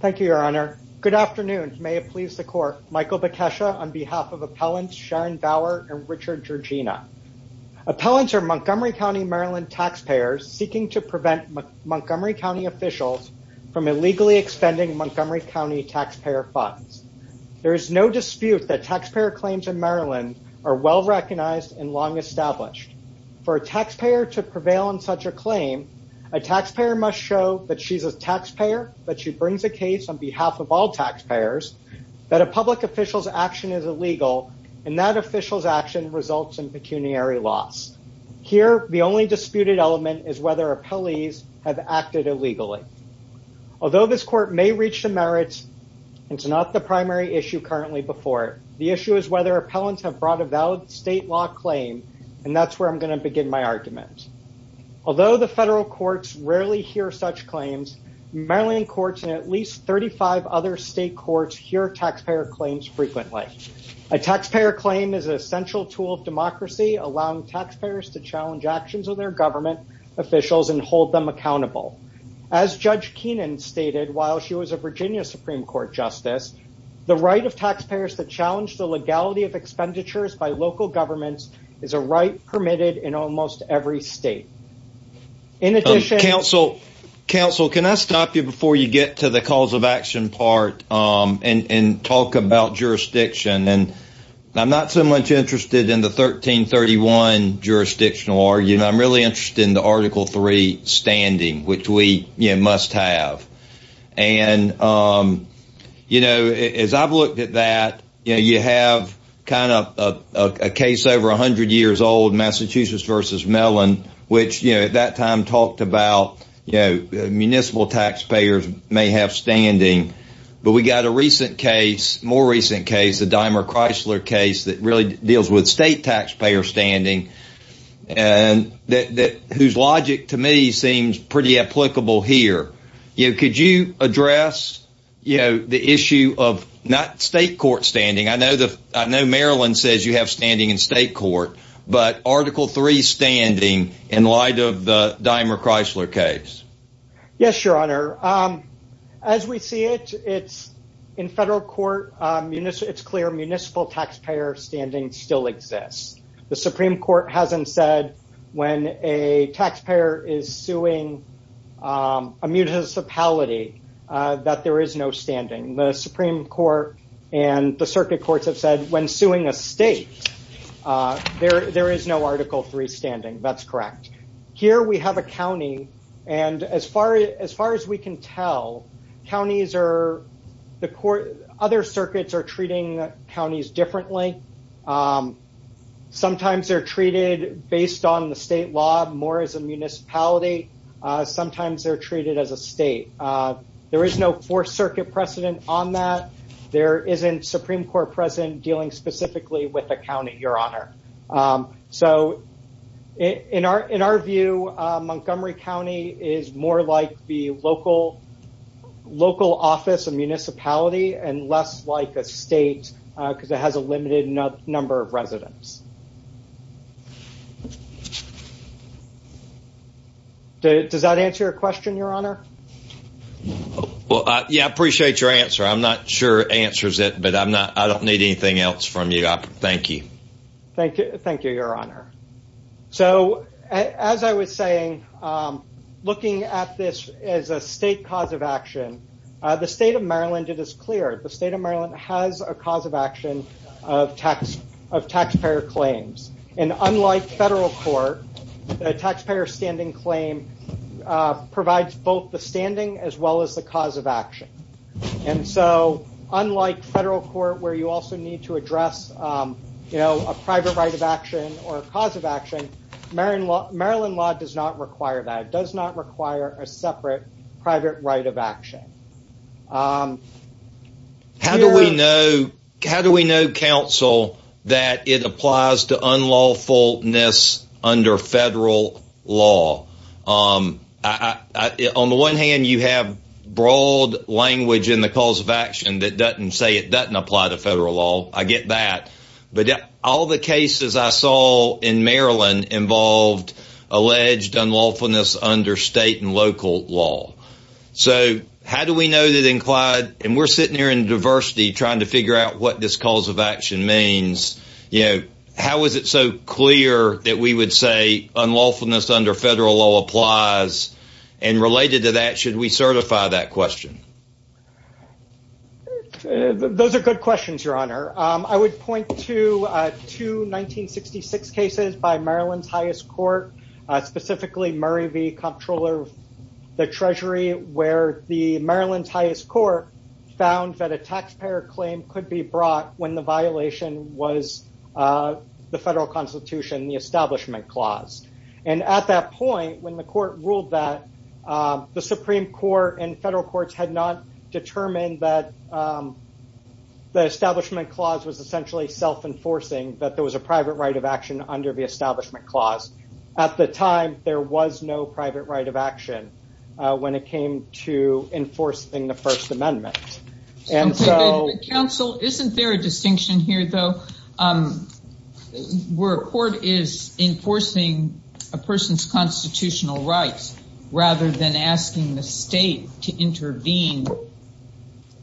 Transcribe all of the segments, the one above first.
Thank you, Your Honor. Good afternoon. May it please the Court. Michael Bekesha on behalf of appellants Sharon Bauer and Richard Georgina. Appellants are Montgomery County, Maryland taxpayers seeking to prevent Montgomery County officials from illegally expending Montgomery County taxpayer funds. There is no dispute that taxpayer claims in Maryland are well recognized and long established. For a taxpayer to prevail on such a claim, a taxpayer must show that she's a taxpayer, that she brings a case on behalf of all taxpayers, that a public official's action is illegal, and that official's action results in pecuniary loss. Here, the only disputed element is whether appellees have acted illegally. Although this court may reach the merits, it's not the primary issue currently before. The issue is whether appellants have brought a valid state law claim. And that's where I'm going to begin my argument. Although the federal courts rarely hear such claims, Maryland courts and at least 35 other state courts hear taxpayer claims frequently. A taxpayer claim is an essential tool of democracy, allowing taxpayers to challenge actions of their government officials and hold them accountable. As Judge Keenan stated, while she was a Virginia Supreme Court Justice, the right of taxpayers to challenge the legality of expenditures by local governments is a right permitted in almost every state. In addition, counsel, counsel, can I stop you before you get to the cause of action part and talk about jurisdiction and I'm not so much interested in the 1331 jurisdictional argument, I'm really interested in the Article Three standing which we must have. And, you know, as I've looked at that, you know, you have kind of a case over 100 years old Massachusetts versus Mellon, which you know, at that time talked about, you know, municipal taxpayers may have standing. But we got a recent case, more recent case, the dimer Chrysler case that really deals with state taxpayer standing. And that whose logic to me seems pretty applicable here. You could you address, you know, the issue of not state court standing? I know that I know Maryland says you have standing in state court, but Article Three standing in light of the dimer Chrysler case? Yes, Your Honor. As we see it, it's in federal court, it's clear municipal taxpayer standing still exists. The Supreme Court hasn't said when a taxpayer is suing a municipality, that there is no standing the Supreme Court, and the circuit courts have said when suing a state, there there is no Article Three standing. That's correct. Here we have a county. And as far as far as we can tell, counties are the court, other circuits are treating counties differently. Sometimes they're treated based on the state law more as a municipality. Sometimes they're treated as a state. There is no Fourth Circuit precedent on that. There isn't Supreme Court precedent dealing specifically with the county, Your Honor. So in our in our view, Montgomery County is more like the local, local office and municipality and less like a state because it has a limited number of residents. Does that answer your question, Your Honor? Well, yeah, appreciate your answer. I'm not sure answers it I'm not I don't need anything else from you. Thank you. Thank you. Thank you, Your Honor. So as I was saying, looking at this as a state cause of action, the state of Maryland, it is clear the state of Maryland has a cause of action of tax of taxpayer claims. And unlike federal court, the taxpayer standing claim provides both the standing as well as the cause of action. And so unlike federal court where you also need to address, you know, a private right of action or cause of action, Maryland, Maryland law does not require that does not require a separate private right of action. How do we know? How do we know counsel that it applies to unlawfulness under federal law? On the one hand, you have broad language in the cause of action that doesn't say it doesn't apply to federal law, I get that. But all the cases I saw in Maryland involved alleged unlawfulness under state and local law. So how do we know that in Clyde, and we're sitting here in diversity trying to figure out what this cause of action means? You know, how is it so clear that we would say unlawfulness under federal law applies? And related to that, should we certify that question? Those are good questions, Your Honor, I would point to two 1966 cases by Maryland's highest court, specifically Murray v. Comptroller of the Treasury, where the Maryland's highest court found that a taxpayer claim could be brought when the violation was the federal constitution, the establishment clause. And at that point, when the court ruled that the Supreme Court and federal courts had not determined that the establishment clause was essentially self enforcing that there was a private right of action under the establishment clause. At the time, there was no private right of action when it came to enforcing the First Amendment. And so counsel isn't there a distinction here, though, where a court is enforcing a person's constitutional rights, rather than asking the state to intervene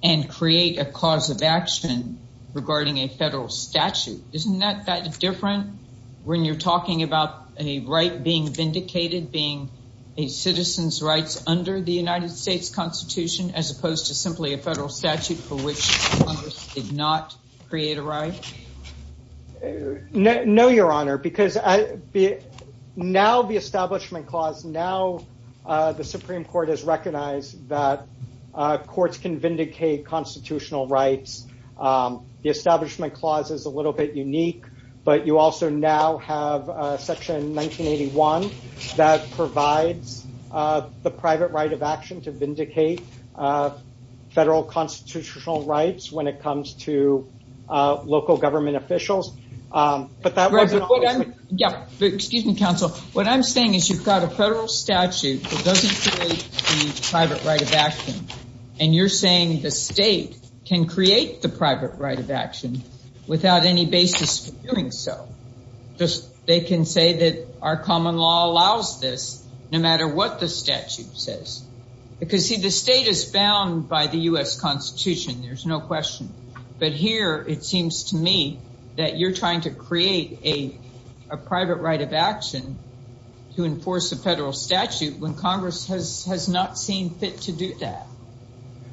and create a cause of action regarding a federal statute? Isn't that that different? When you're talking about a right being vindicated being a citizen's rights under the United States Constitution, as opposed to simply a federal statute for which Congress did not create a right? No, Your Honor, because now the establishment clause now, the Supreme Court has recognized that courts can vindicate constitutional rights. The establishment clause is a little bit unique. But you also now have Section 1981 that provides the private right of action to vindicate federal constitutional rights when it comes to local government officials. But that was Yeah, excuse me, counsel. What I'm saying is you've got a federal statute that doesn't create the private right of action. And you're saying the state can create the private right of action without any basis for doing so. They can say that our common law allows this, no matter what the statute says. Because see, the state is bound by the US Constitution, there's no question. But here, it seems to me that you're trying to create a private right of action to enforce a statute when Congress has has not seen fit to do that.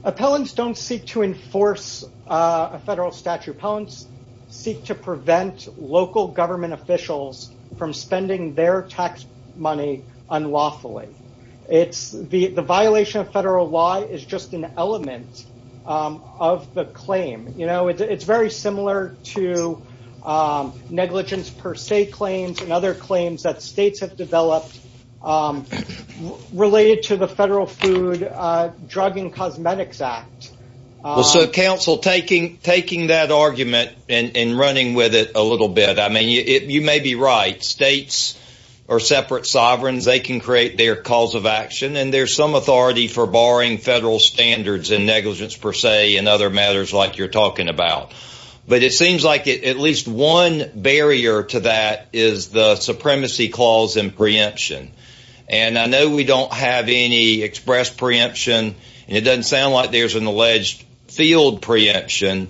Appellants don't seek to enforce a federal statute. Appellants seek to prevent local government officials from spending their tax money unlawfully. It's the violation of federal law is just an element of the claim. You know, it's very similar to negligence per se claims and other claims that states have related to the Federal Food, Drug and Cosmetics Act. So counsel taking taking that argument and running with it a little bit. I mean, you may be right states are separate sovereigns, they can create their cause of action. And there's some authority for barring federal standards and negligence per se and other matters like you're talking about. But it seems like at least one barrier to that is the And I know we don't have any express preemption. It doesn't sound like there's an alleged field preemption.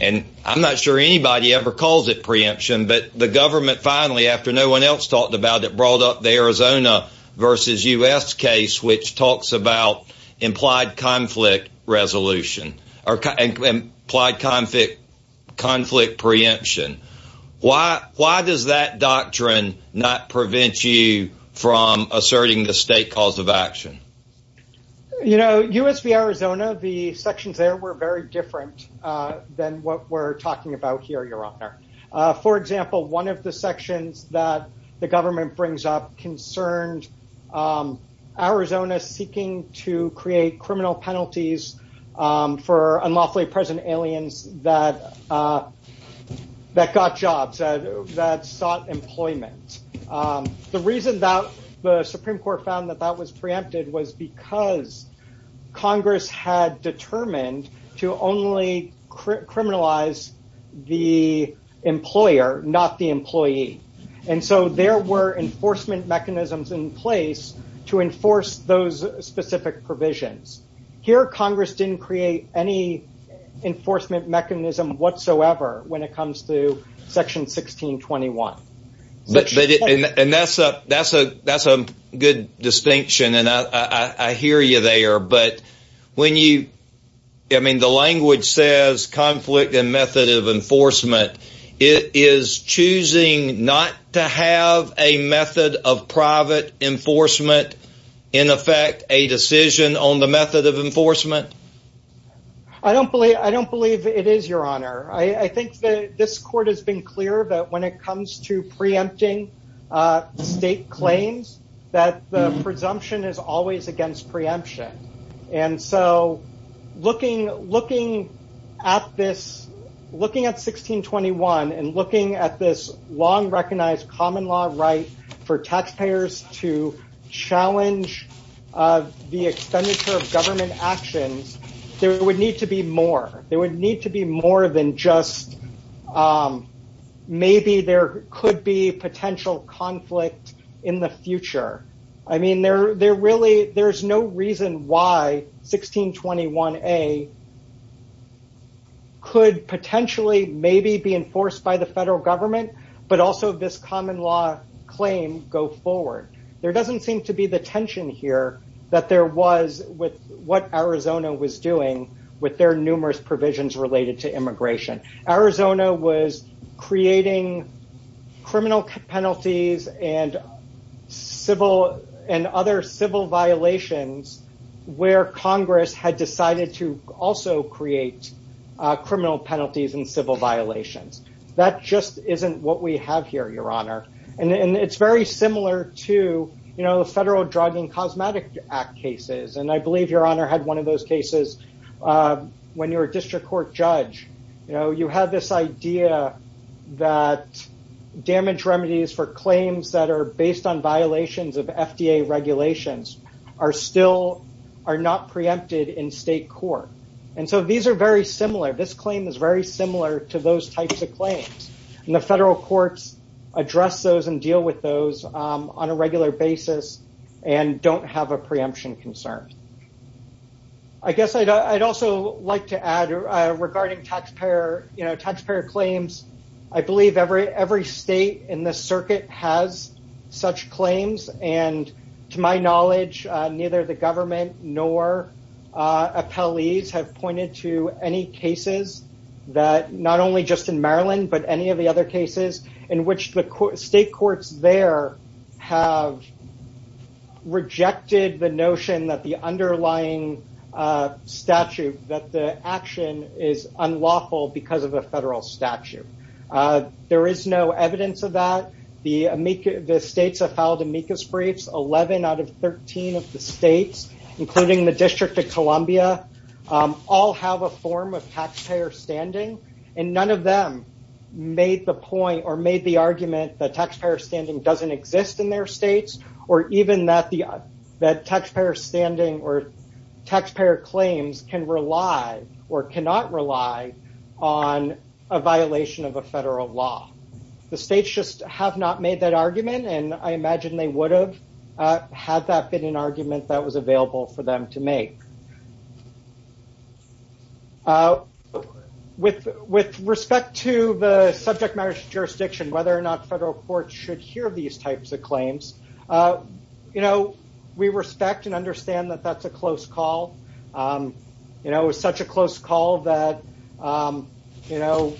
And I'm not sure anybody ever calls it preemption. But the government finally, after no one else talked about it brought up the Arizona versus us case, which talks about implied conflict resolution, or implied conflict, conflict preemption. Why? Why does that doctrine not prevent you from asserting the state cause of action? You know, usv, Arizona, the sections there were very different than what we're talking about here, your honor. For example, one of the sections that the government brings up concerned, Arizona seeking to create criminal penalties for unlawfully present aliens that that got jobs that sought employment. The reason that the Supreme Court found that that was preempted was because Congress had determined to only criminalize the employer, not the employee. And so there were enforcement mechanisms in place to enforce those specific provisions. Here, Congress didn't create any enforcement mechanism whatsoever when it comes to Section 1621. But and that's a that's a that's a good distinction. And I hear you there. But when you I mean, the language says conflict and method of enforcement is choosing not to have a method of enforcement. I don't believe I don't believe it is your honor. I think that this court has been clear that when it comes to preempting state claims, that the presumption is always against preemption. And so looking looking at this, looking at 1621 and looking at this long recognized common law right for government actions, there would need to be more there would need to be more than just maybe there could be potential conflict in the future. I mean, they're they're really there's no reason why 1621 a could potentially maybe be enforced by the federal government, but also this common law claim go forward. There doesn't seem to be the tension here that there was with what Arizona was doing with their numerous provisions related to immigration. Arizona was creating criminal penalties and civil and other civil violations, where Congress had decided to also create criminal penalties and civil violations. That just isn't what we have here, Your Honor. And it's very similar to the Federal Drug and Cosmetic Act cases. And I believe Your Honor had one of those cases. When you're a district court judge, you know, you have this idea that damage remedies for claims that are based on violations of FDA regulations are still are not preempted in state court. And so these are very similar. This claim is very similar to those types of claims. And the federal courts address those and deal with those on a regular basis, and don't have a preemption concern. I guess I'd also like to add regarding taxpayer, you know, taxpayer claims. I believe every every state in the circuit has such claims. And to my knowledge, neither the government nor appellees have pointed to any cases that not only just in Maryland, but any of the other cases in which the state courts there have rejected the notion that the underlying statute that the action is unlawful because of a federal statute. There is no evidence of that. The states have filed amicus briefs 11 out of 13 of the states, including the District of Columbia, all have a form of taxpayer standing. And none of them made the point or made the argument that taxpayer standing doesn't exist in their states, or even that the that taxpayer standing or taxpayer claims can rely or cannot rely on a violation of a federal law. The states just have not made that argument. And I imagine they would have had that been an issue. With with respect to the subject matter jurisdiction, whether or not federal courts should hear these types of claims. You know, we respect and understand that that's a close call. You know, it was such a close call that, you know,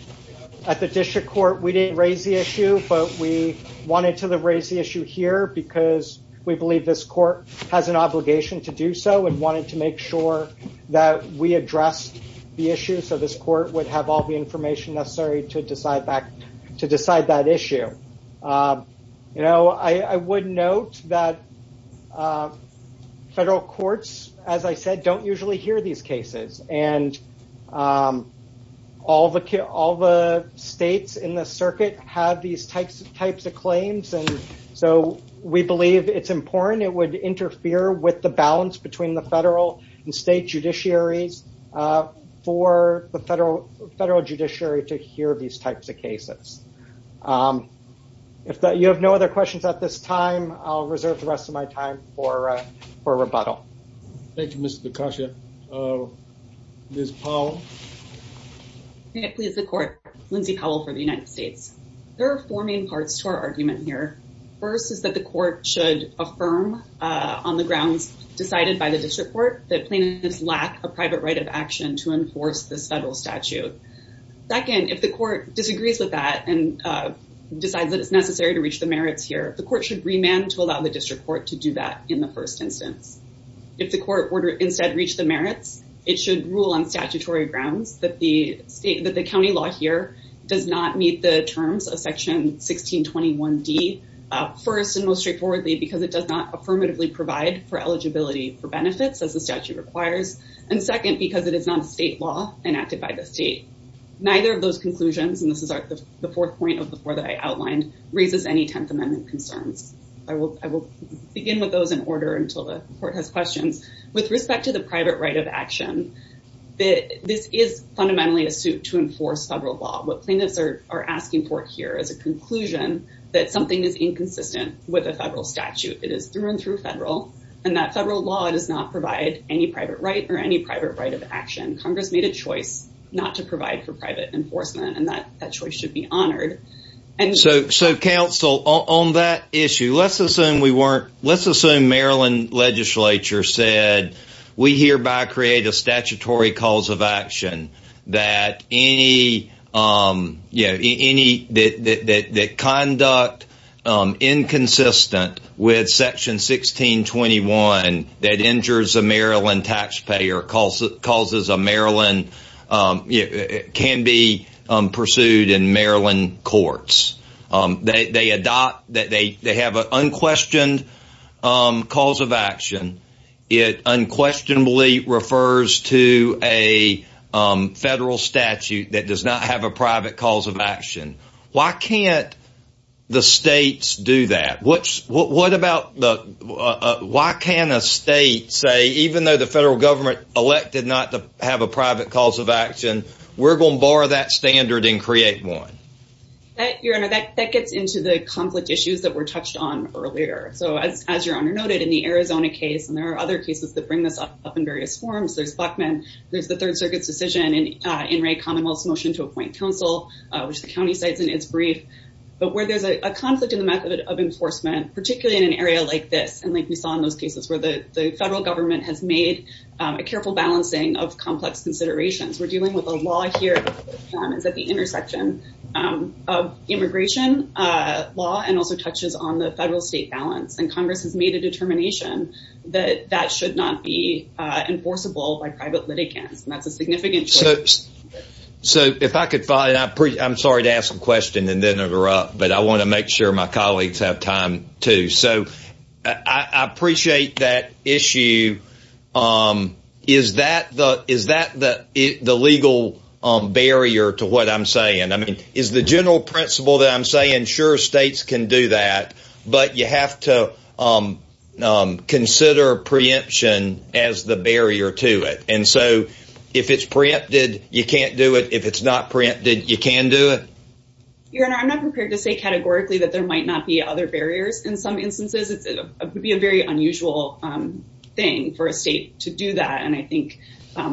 at the district court, we didn't raise the issue, but we wanted to raise the issue here because we believe this court has an obligation to make sure that we address the issue. So this court would have all the information necessary to decide back to decide that issue. You know, I would note that federal courts, as I said, don't usually hear these cases. And all the kids, all the states in the circuit have these types of types of claims. And so we believe it's important, it would interfere with the balance between the federal and state judiciaries for the federal federal judiciary to hear these types of cases. If you have no other questions at this time, I'll reserve the rest of my time for for rebuttal. Thank you, Mr. Takashi. Ms. Powell. Yeah, please the court, Lindsey Powell for the United States. There are four main parts to our argument here. First is that the on the grounds decided by the district court that plaintiffs lack a private right of action to enforce the federal statute. Second, if the court disagrees with that, and decides that it's necessary to reach the merits here, the court should remand to allow the district court to do that in the first instance, if the court were to instead reach the merits, it should rule on statutory grounds that the state that the county law here does not meet the terms of section 1621 D. First and most straightforwardly, because it does not affirmatively provide for eligibility for benefits as the statute requires. And second, because it is not a state law enacted by the state. Neither of those conclusions, and this is the fourth point of the four that I outlined raises any 10th Amendment concerns. I will I will begin with those in order until the court has questions. With respect to the private right of action, that this is fundamentally a suit to enforce federal law, what plaintiffs are are asking for here is a conclusion that something is not a federal statute, it is through and through federal, and that federal law does not provide any private right or any private right of action, Congress made a choice not to provide for private enforcement, and that that choice should be honored. And so so Council on that issue, let's assume we weren't, let's assume Maryland legislature said, we hereby create a statutory cause of action, that any, you know, any that conduct inconsistent with section 1621, that injures a Maryland taxpayer calls it causes a Maryland can be pursued in Maryland courts, they adopt that they have an unquestioned cause of action. It unquestionably refers to a federal statute that does not have a private cause of action. Why can't the states do that? What's what about the why can a state say even though the federal government elected not to have a private cause of action, we're going to borrow that standard and create one that you're under that gets into the conflict issues that were touched on earlier. So as your honor noted in the Arizona case, and there are other cases that bring this up in various forms, there's Bachman, there's the Third Circuit's decision and in a Commonwealth motion to appoint counsel, which the county says in its brief, but where there's a conflict in the method of enforcement, particularly in an area like this. And like we saw in those cases where the federal government has made a careful balancing of complex considerations, we're dealing with a law here is at the intersection of immigration law and also touches on the federal state balance and Congress has made a determination that that should not be enforceable by private litigants. And that's a so if I could find out, I'm sorry to ask a question and then interrupt, but I want to make sure my colleagues have time to so I appreciate that issue. Um, is that the is that the the legal barrier to what I'm saying? I mean, is the general principle that I'm saying sure states can do that. But you have to consider preemption as the barrier to it. And so if it's preempted, you can't do it. If it's not preempted, you can do it. Your Honor, I'm not prepared to say categorically that there might not be other barriers. In some instances, it would be a very unusual thing for a state to do that. And I think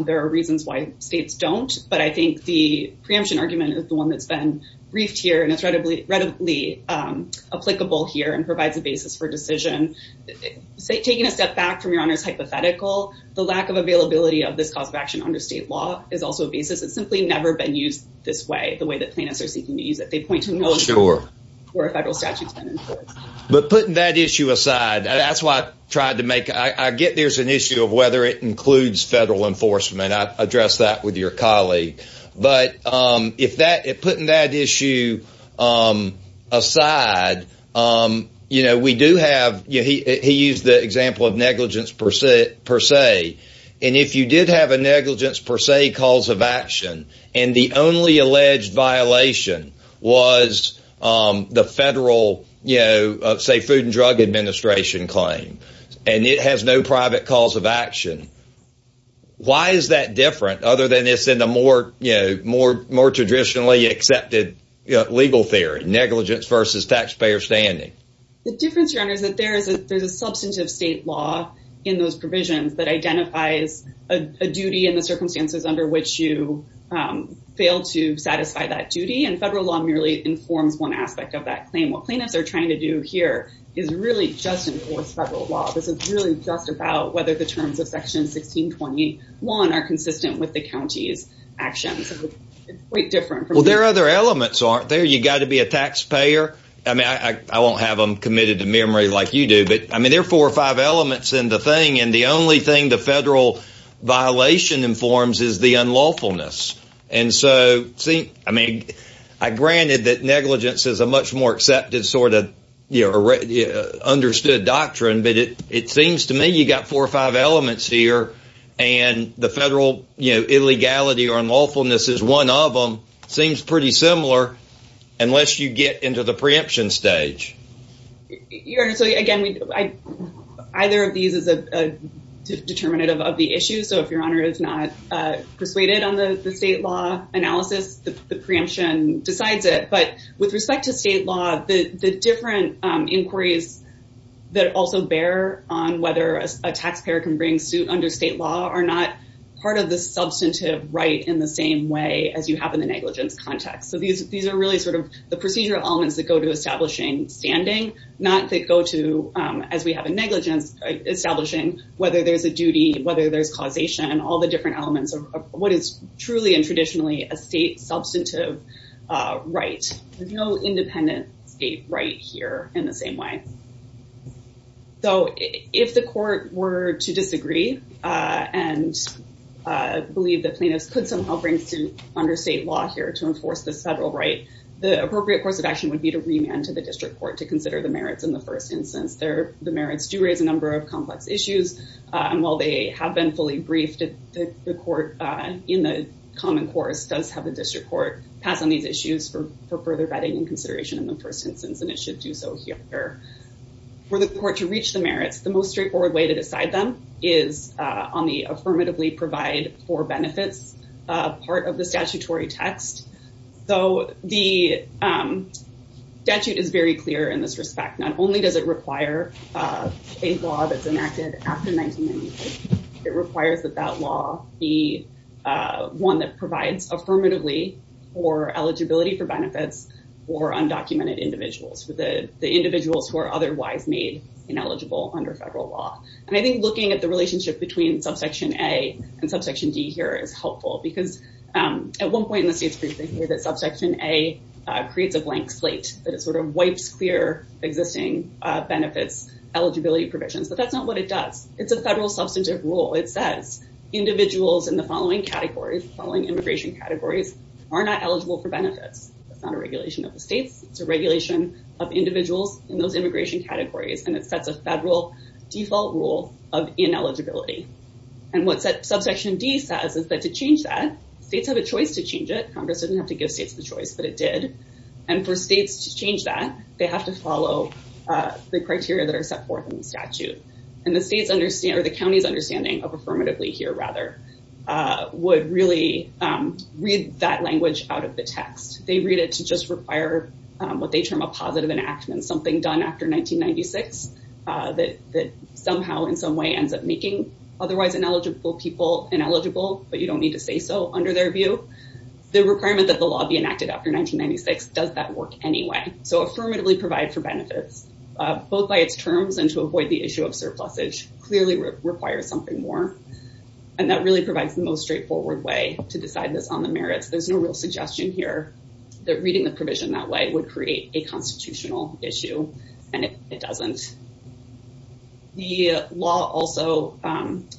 there are reasons why states don't. But I think the preemption argument is the one that's been briefed here. And it's readily readily applicable here and provides a basis for decision. So taking a step back from Your Honor's hypothetical, the lack of availability of this cause of action under state law is also a basis. It's simply never been used this way, the way that plaintiffs are seeking to use it, they point to know for a federal statute. But putting that issue aside, that's why I tried to make I get there's an issue of whether it includes federal enforcement. I addressed that with your colleague. But if that it put in that issue, um, aside, um, you know, we do have you he used the word negligence per se, per se. And if you did have a negligence per se cause of action, and the only alleged violation was the federal, you know, say Food and Drug Administration claim, and it has no private cause of action. Why is that different other than this in a more, you know, more, more traditionally accepted legal theory, negligence versus taxpayer standing? The difference, Your Honor, is that there is a there's a substantive state law in those provisions that identifies a duty in the circumstances under which you fail to satisfy that duty. And federal law merely informs one aspect of that claim. What plaintiffs are trying to do here is really just enforce federal law. This is really just about whether the terms of Section 1621 are consistent with the county's actions. Quite different. Well, there are other elements aren't there, you got to be a taxpayer. I mean, I won't have them committed to memory like you do. But I mean, there are four or five elements in the thing. And the only thing the federal violation informs is the unlawfulness. And so see, I mean, I granted that negligence is a much more accepted sort of, you know, understood doctrine, but it it seems to me you got four or five elements here. And the federal, you know, illegality or unlawfulness is one of them seems pretty similar, unless you get into the preemption stage. Your Honor, so again, either of these is a determinative of the issue. So if Your Honor is not persuaded on the state law analysis, the preemption decides it. But with respect to state law, the different inquiries that also bear on whether a taxpayer can bring suit under state law are not part of the substantive right in the same way as you have in the negligence context. So these, these are really sort of the not that go to, as we have a negligence, establishing whether there's a duty, whether there's causation, all the different elements of what is truly and traditionally a state substantive right, no independent state right here in the same way. So if the court were to disagree, and believe that plaintiffs could somehow bring suit under state law here to enforce the federal right, the appropriate course of action would be for the court to reach the merits and then to the district court to consider the merits in the first instance there, the merits do raise a number of complex issues. And while they have been fully briefed, the court in the common course does have a district court pass on these issues for further vetting and consideration in the first instance, and it should do so here. For the court to reach the merits, the most straightforward way to decide them is on the affirmatively provide for benefits, part of the statutory text. So the statute is very clear in this respect, not only does it require a law that's enacted after 1998, it requires that that law be one that provides affirmatively for eligibility for benefits for undocumented individuals for the individuals who are otherwise made ineligible under federal law. And I think looking at the relationship between subsection A and subsection D here is helpful because at one point in the state's briefing here that subsection A creates a blank slate that it sort of wipes clear existing benefits, eligibility provisions, but that's not what it does. It's a federal substantive rule. It says individuals in the following categories following immigration categories are not eligible for benefits. It's not a regulation of the states, it's a regulation of individuals in those immigration categories, and it is a federal default rule of ineligibility. And what's that subsection D says is that to change that states have a choice to change it, Congress didn't have to give states the choice, but it did. And for states to change that, they have to follow the criteria that are set forth in the statute. And the states understand or the county's understanding of affirmatively here rather, would really read that language out of the text, they read it to just require what they term a positive enactment, something done after 1996, that somehow in some way ends up making otherwise ineligible people ineligible, but you don't need to say so under their view. The requirement that the law be enacted after 1996 does that work anyway. So affirmatively provide for benefits, both by its terms and to avoid the issue of surplusage clearly requires something more. And that really provides the most straightforward way to decide this on the merits. There's no real suggestion here, that reading the provision that way would create a constitutional issue. And it doesn't. The law also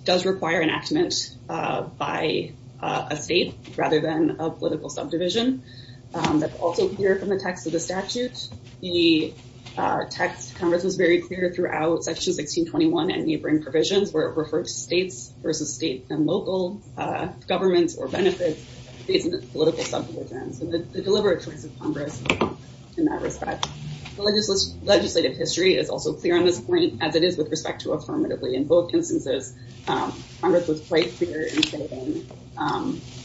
does require enactment by a state rather than a political subdivision. That's also here from the text of the statute. The text, Congress was very clear throughout section 1621 and neighboring provisions where it referred to states versus state and local governments or benefits, these political subdivisions and the deliberate choice of Congress in that respect. Legislative history is also clear on this point, as it is with respect to affirmatively in both instances. Congress was quite clear in saying,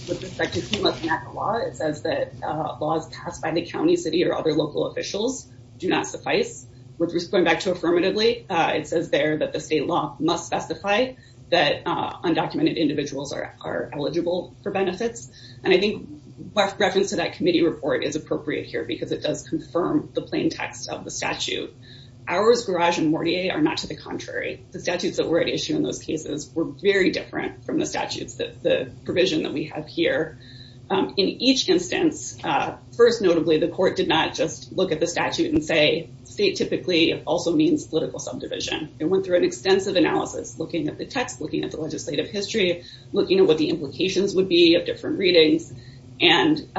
with respect to FEMA's enactment law, it says that laws passed by the county, city or other local officials do not suffice, which was going back to affirmatively, it says there that the state law must specify that undocumented individuals are eligible for benefits. And I think reference to that committee report is appropriate here, because it does confirm the plain text of the statute. Ours, Garage and Mortier are not to the contrary, the statutes that were at issue in those cases were very different from the statutes that the provision that we have here. In each instance, first, notably, the court did not just look at the statute and say, state typically also means political subdivision and went through an extensive analysis looking at the text, looking at the looking at what the implications would be of different readings. And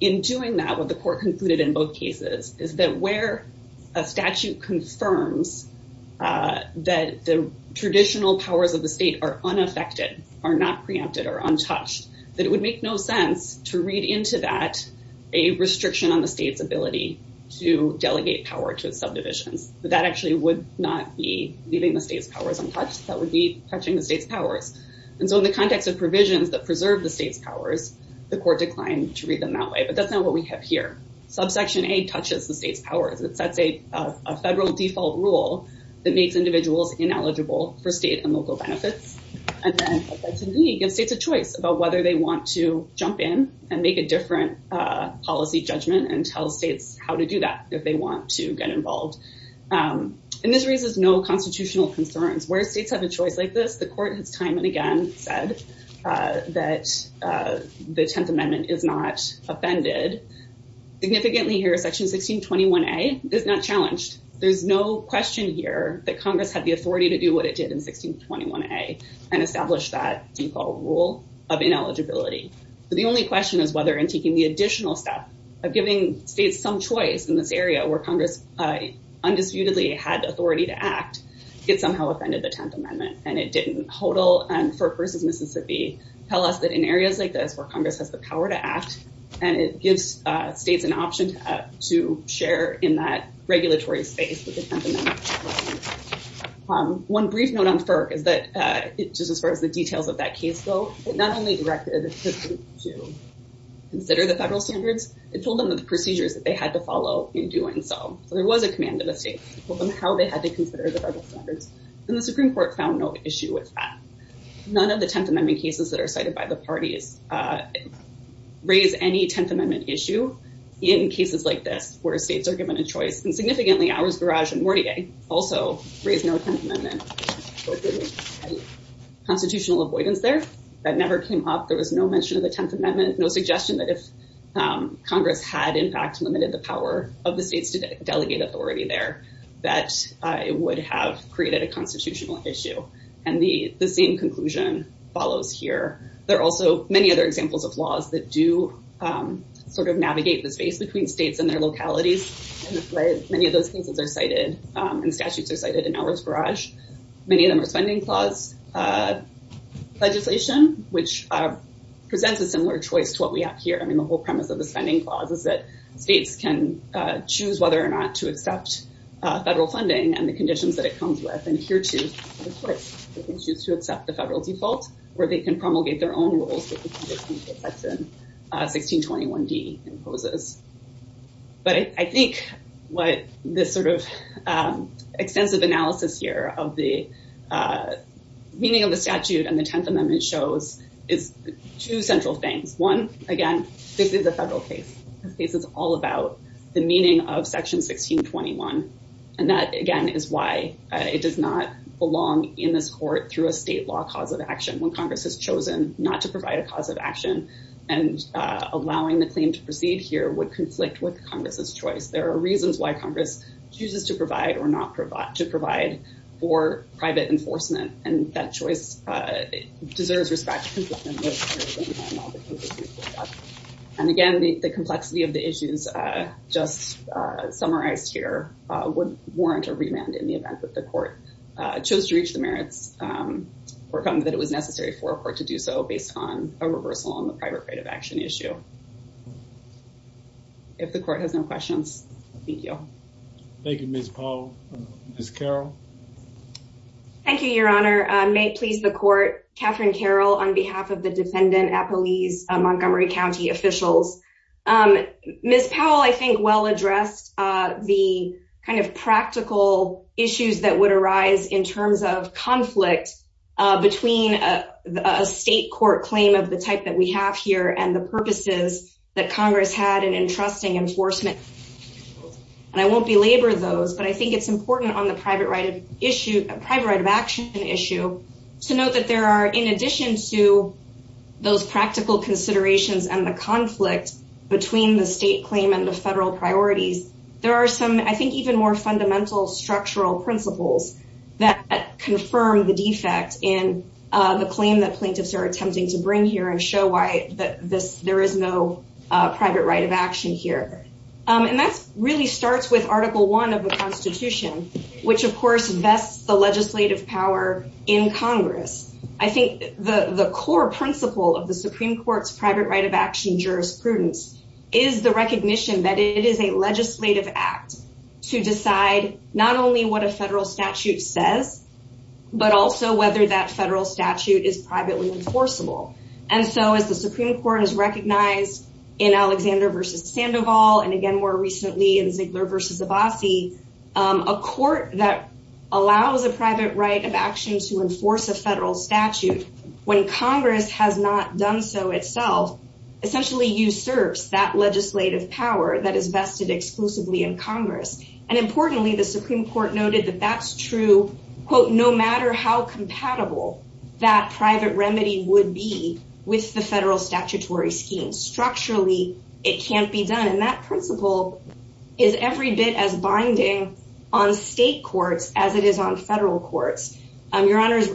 in doing that, what the court concluded in both cases is that where a statute confirms that the traditional powers of the state are unaffected, are not preempted or untouched, that it would make no sense to read into that a restriction on the state's ability to delegate power to subdivisions, that actually would not be leaving the state's powers untouched, that would be touching the state's powers. And so in the context of provisions that preserve the state's powers, the court declined to read them that way. But that's not what we have here. Subsection A touches the state's powers, it sets a federal default rule that makes individuals ineligible for state and local benefits. And then subsection B gives states a choice about whether they want to jump in and make a different policy judgment and tell states how to do that if they want to get involved. And this raises no constitutional concerns where states have a choice like this. The court has time and again said that the Tenth Amendment is not offended. Significantly here, section 1621A is not challenged. There's no question here that Congress had the authority to do what it did in 1621A and establish that default rule of ineligibility. But the only question is whether in taking the additional step of giving states some choice in this area where Congress undisputedly had authority to act, it somehow offended the Tenth Amendment. And it didn't. HODL and FERC versus Mississippi tell us that in areas like this where Congress has the power to act, and it gives states an option to share in that regulatory space with the Tenth Amendment. One brief note on FERC is that just as far as the details of that case go, it not only directed the state to consider the federal standards, it told them the procedures that they had to follow in doing so. So there was a command of the state to tell them how they had to consider the federal standards. And the Supreme Court found no issue with that. None of the Tenth Amendment cases that are cited by the parties raise any Tenth Amendment issue in cases like this, where states are given a choice. And significantly, Ours Garage and Mortier also raise no Tenth Amendment. Constitutional avoidance there, that never came up. There was no mention of the Tenth Amendment, no suggestion that if Congress had in fact limited the power of the states to delegate authority there, that it would have created a constitutional issue. And the same conclusion follows here. There are also many other examples of laws that do sort of navigate the space between states and their localities. Many of those cases are cited, and statutes are cited in Ours Garage. Many of them are spending clause legislation, which presents a similar choice to what we have here. I mean, the whole premise of the spending clause is that states can choose whether or not to accept federal funding and the conditions that it comes with. And here too, they can choose to accept the federal default, where they can promulgate their own rules that the 1621d imposes. But I think what this sort of extensive analysis here of the meaning of the statute and the Tenth Amendment shows is two central things. One, again, this is a federal case. This case is all about the meaning of Section 1621. And that, again, is why it does not belong in this court through a state law cause of action. When Congress has chosen not to provide a cause of action, and allowing the claim to proceed here would conflict with Congress's choice. There are reasons why Congress chooses to provide or not to provide for private enforcement, and that choice deserves respect. And again, the complexity of the issues just summarized here would warrant a remand in the event that the court chose to reach the merits, or found that it was necessary for a court to do so based on a reversal on the private right of action issue. If the court has no questions, thank you. Thank you, Ms. Powell. Ms. Carroll. Thank you, Your Honor. May it please the court, Catherine Carroll, on behalf of the Defendant Appalese Montgomery County officials. Ms. Powell, I think, well addressed the kind of practical issues that would arise in terms of conflict between a state court claim of the type that we have here and the purposes that Congress had in entrusting enforcement. And I won't belabor those, but I think it's important on the private right of issue, private right of action issue, to note that there in addition to those practical considerations and the conflict between the state claim and the federal priorities, there are some, I think, even more fundamental structural principles that confirm the defect in the claim that plaintiffs are attempting to bring here and show why that this there is no private right of action here. And that really starts with Article One of the Constitution, which of course vests the legislative power in Congress. I think the core principle of the Supreme Court's private right of action jurisprudence is the recognition that it is a legislative act to decide not only what a federal statute says, but also whether that federal statute is privately enforceable. And so as the Supreme Court has recognized in Alexander versus Sandoval, and again, more recently in Ziegler versus Abbasi, a court that allows a private right of action to enforce a federal statute, when Congress has not done so itself, essentially usurps that legislative power that is vested exclusively in Congress. And importantly, the Supreme Court noted that that's true, quote, no matter how compatible that private remedy would be with the federal statutory scheme, structurally, it can't be done. And that principle is every bit as important in state courts as it is on federal courts, and your honors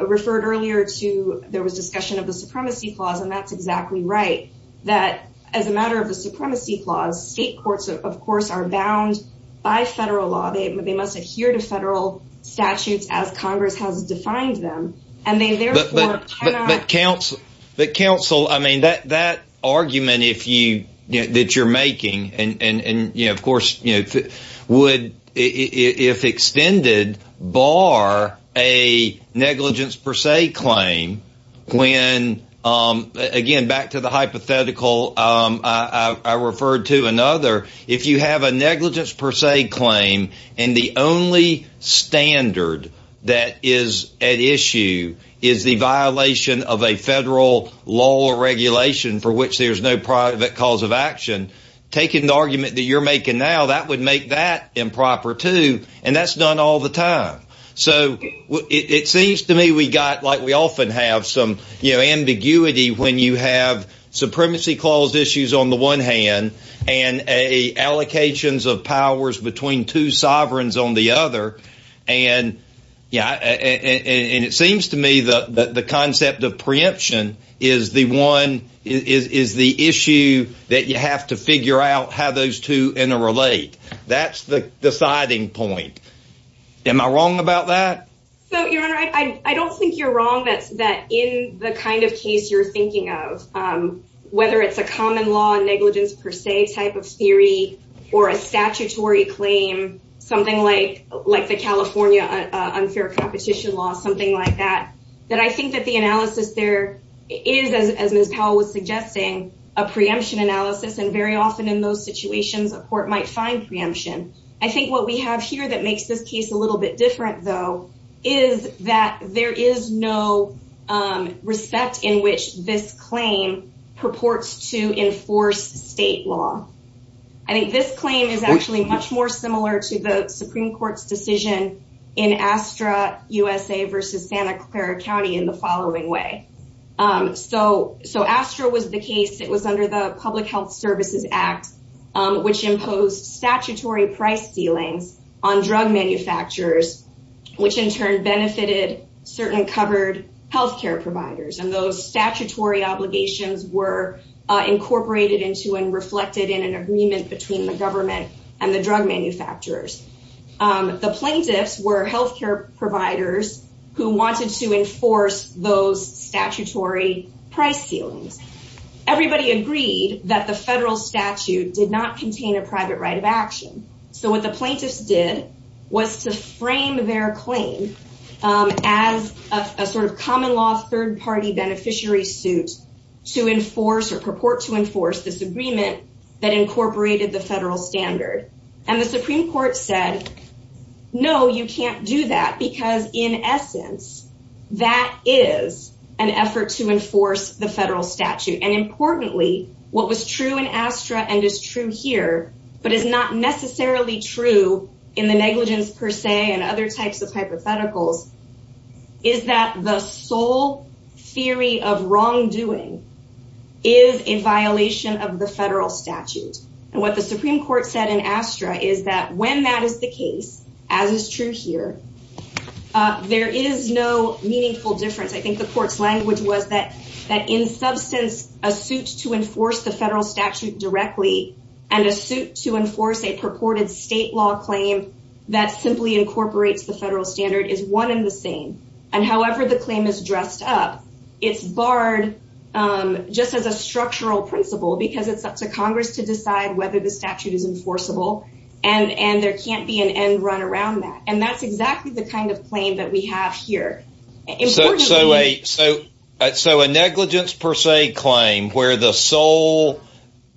referred earlier to there was discussion of the supremacy clause. And that's exactly right, that as a matter of the supremacy clause, state courts, of course, are bound by federal law, they must adhere to federal statutes as Congress has defined them. And they therefore, but counsel, the council, I mean, that that argument, if you that you're making, and you know, of course, you would, if extended, bar a negligence per se claim, when, again, back to the hypothetical, I referred to another, if you have a negligence per se claim, and the only standard that is at issue is the violation of a federal law or regulation for which there's no private cause of action, taking the argument that you're making now that would make that improper to and that's done all the time. So it seems to me we got like we often have some, you know, ambiguity when you have supremacy clause issues on the one hand, and a allocations of powers between two sovereigns on the other. And, yeah, and it seems to me that the concept of that you have to figure out how those two interrelate. That's the deciding point. Am I wrong about that? So you're right, I don't think you're wrong. That's that in the kind of case you're thinking of, whether it's a common law negligence per se type of theory, or a statutory claim, something like like the California unfair competition law, something like that, that I think that the analysis there is as Ms. Powell was suggesting, a preemption analysis, and very often in those situations, a court might find preemption. I think what we have here that makes this case a little bit different, though, is that there is no respect in which this claim purports to enforce state law. I think this claim is actually much more similar to the Supreme Court's decision in So ASTRA was the case, it was under the Public Health Services Act, which imposed statutory price ceilings on drug manufacturers, which in turn benefited certain covered healthcare providers. And those statutory obligations were incorporated into and reflected in an agreement between the government and the drug manufacturers. The plaintiffs were healthcare providers who wanted to enforce those price ceilings. Everybody agreed that the federal statute did not contain a private right of action. So what the plaintiffs did was to frame their claim as a sort of common law third party beneficiary suit to enforce or purport to enforce this agreement that incorporated the federal standard. And the Supreme Court said, No, you can't do that. Because in federal statute, and importantly, what was true in ASTRA and is true here, but is not necessarily true in the negligence per se and other types of hypotheticals, is that the sole theory of wrongdoing is a violation of the federal statute. And what the Supreme Court said in ASTRA is that when that is the case, as is true here, there is no meaningful difference. I think the court's language was that, that in substance, a suit to enforce the federal statute directly, and a suit to enforce a purported state law claim, that simply incorporates the federal standard is one in the same. And however, the claim is dressed up, it's barred, just as a structural principle, because it's up to Congress to decide whether the statute is enforceable. And and there can't be an end run around that. And that's exactly the kind of claim that we have here. So, so a so, so a negligence per se claim where the sole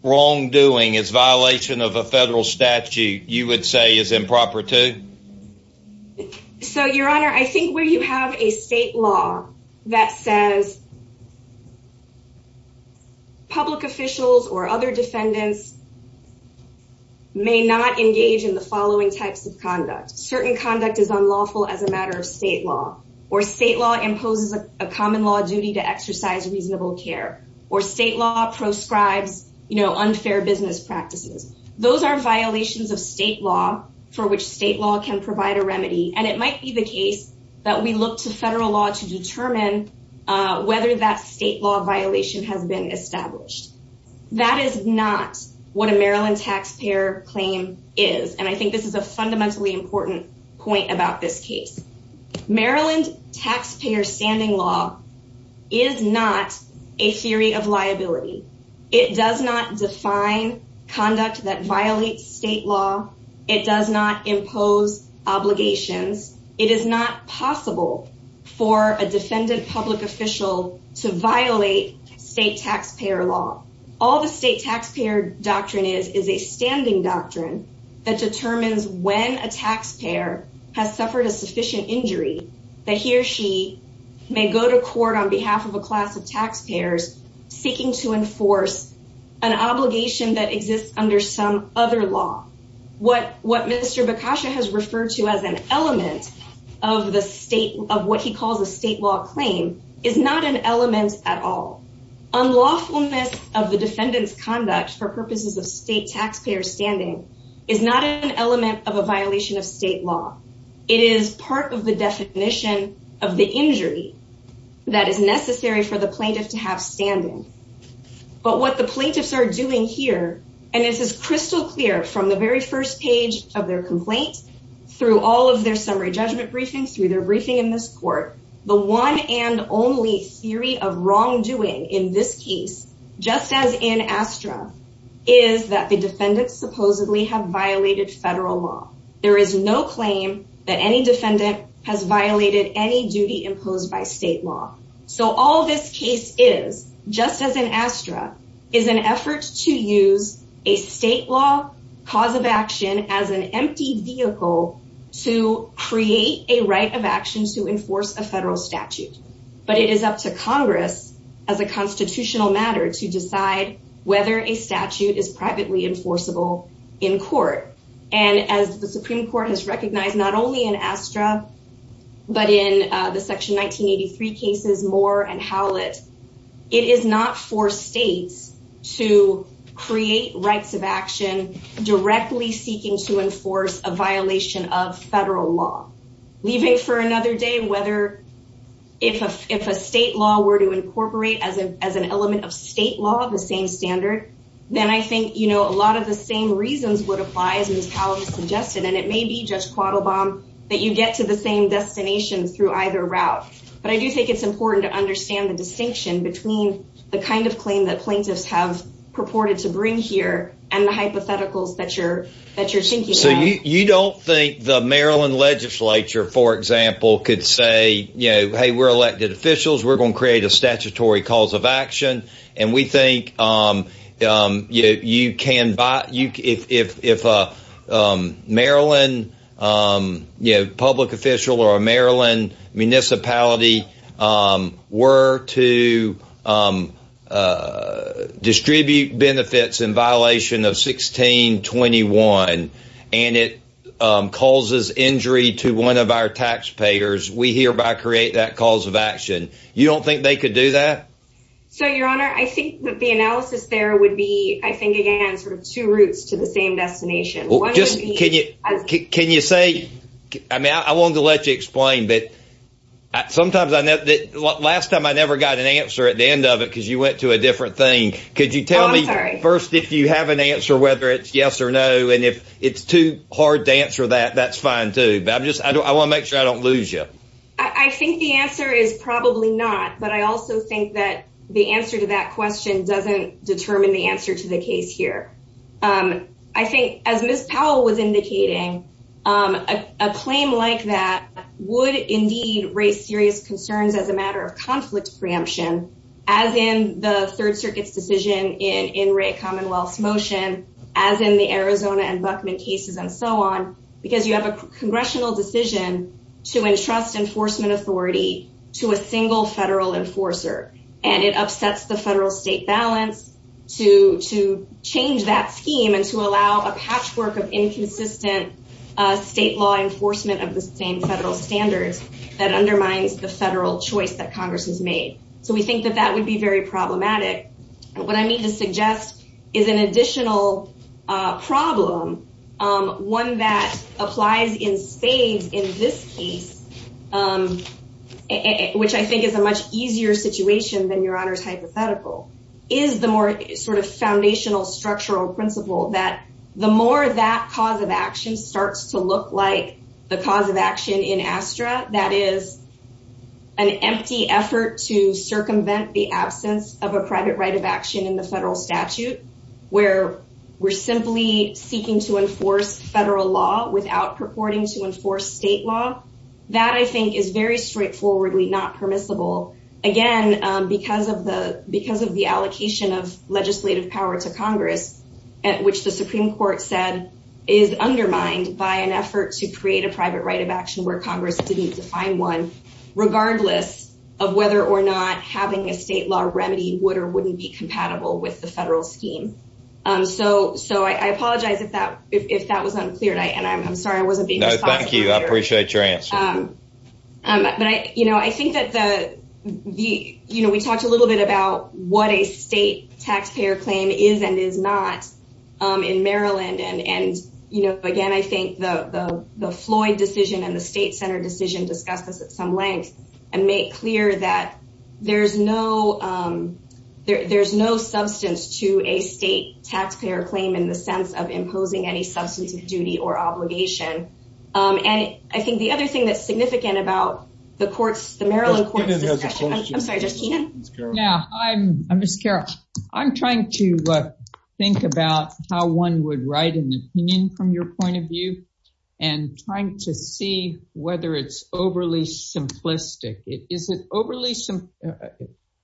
wrongdoing is violation of a federal statute, you would say is improper to so your honor, I think where you have a state law that says public officials or other defendants may not engage in the following types of conduct, certain conduct is unlawful as a matter of state law, or state law imposes a common law duty to exercise reasonable care, or state law proscribes, you know, unfair business practices, those are violations of state law, for which state law can provide a remedy. And it might be the case that we look to federal law to determine whether that state law violation has been established. That is not what a Maryland taxpayer claim is. And I think this is a fundamentally important point about this case. Maryland taxpayer standing law is not a theory of liability. It does not define conduct that violates state law. It does not impose obligations. It is not possible for a defendant public official to violate state taxpayer law. All the state taxpayer doctrine is is a has suffered a sufficient injury, that he or she may go to court on behalf of a class of taxpayers seeking to enforce an obligation that exists under some other law. What what Mr. Bakasha has referred to as an element of the state of what he calls a state law claim is not an element at all. unlawfulness of the defendant's conduct for purposes of state taxpayer standing is not an element of a violation of state law. It is part of the definition of the injury that is necessary for the plaintiff to have standing. But what the plaintiffs are doing here, and this is crystal clear from the very first page of their complaint, through all of their summary judgment briefings through their briefing in this court, the one and only theory of wrongdoing in this case, just as in Astra, is that the defendant supposedly have violated federal law, there is no claim that any defendant has violated any duty imposed by state law. So all this case is just as an Astra is an effort to use a state law cause of action as an empty vehicle to create a right of action to enforce a federal statute. But it is up to Congress as a constitutional matter to decide whether a statute is enforceable in court. And as the Supreme Court has recognized not only in Astra, but in the section 1983 cases Moore and Howlett, it is not for states to create rights of action, directly seeking to enforce a violation of federal law, leaving for another day whether if if a state law were to incorporate as an as an element of state law, the same standard, then I think, you know, a lot of the same reasons would apply as was suggested, and it may be just quaddle bomb, that you get to the same destination through either route. But I do think it's important to understand the distinction between the kind of claim that plaintiffs have purported to bring here and the hypotheticals that you're, that you're thinking. So you don't think the Maryland legislature, for example, could say, you know, hey, we're elected officials, we're going to create a statutory cause of action. And we think you can buy you if a Maryland, you know, public official or a Maryland municipality were to distribute benefits in violation of 1621. And it causes injury to one of our taxpayers, we hereby create that cause of action, you don't think they could do that? So your honor, I think that the analysis there would be I think, again, sort of two routes to the same destination. Well, just can you can you say, I mean, I won't let you explain that. Sometimes I know that last time I never got an answer at the end of it, because you went to a different thing. Could you tell me first, if you have an answer, whether it's yes or no, and if it's too hard to answer that, that's fine, too. But I'm just I want to make sure I don't lose you. I think the answer is probably not. But I also think that the answer to that question doesn't determine the answer to the case here. I think as Miss Powell was indicating, a claim like that would indeed raise serious concerns as a matter of conflict preemption, as in the Third Circuit's decision in in rate Commonwealth's motion, as in the Arizona and Buckman cases and so on, because you have a congressional decision to trust enforcement authority to a single federal enforcer, and it upsets the federal state balance to to change that scheme and to allow a patchwork of inconsistent state law enforcement of the same federal standards that undermines the federal choice that Congress has made. So we think that that would be very problematic. What I mean to suggest is an phase in this case, which I think is a much easier situation than your honor's hypothetical, is the more sort of foundational structural principle that the more that cause of action starts to look like the cause of action in Astra, that is an empty effort to circumvent the absence of a private right of action in federal law without purporting to enforce state law. That I think is very straightforwardly not permissible, again, because of the because of the allocation of legislative power to Congress, at which the Supreme Court said, is undermined by an effort to create a private right of action where Congress didn't define one, regardless of whether or not having a state law remedy would or wouldn't be compatible with the federal scheme. So so I apologize if that if that was unclear, and I'm sorry, I wasn't being no, thank you. I appreciate your answer. But I you know, I think that the the, you know, we talked a little bit about what a state taxpayer claim is and is not in Maryland. And and, you know, again, I think the Floyd decision and the state center decision discussed this at some length, and make clear that there's no, there's no substance to a state taxpayer claim in the sense of imposing any substance of duty or obligation. And I think the other thing that's significant about the courts, the Maryland courts, I'm sorry, just now, I'm, I'm just Carol, I'm trying to think about how one would write an opinion from your point of view, and trying to see whether it's overly simplistic, it isn't overly some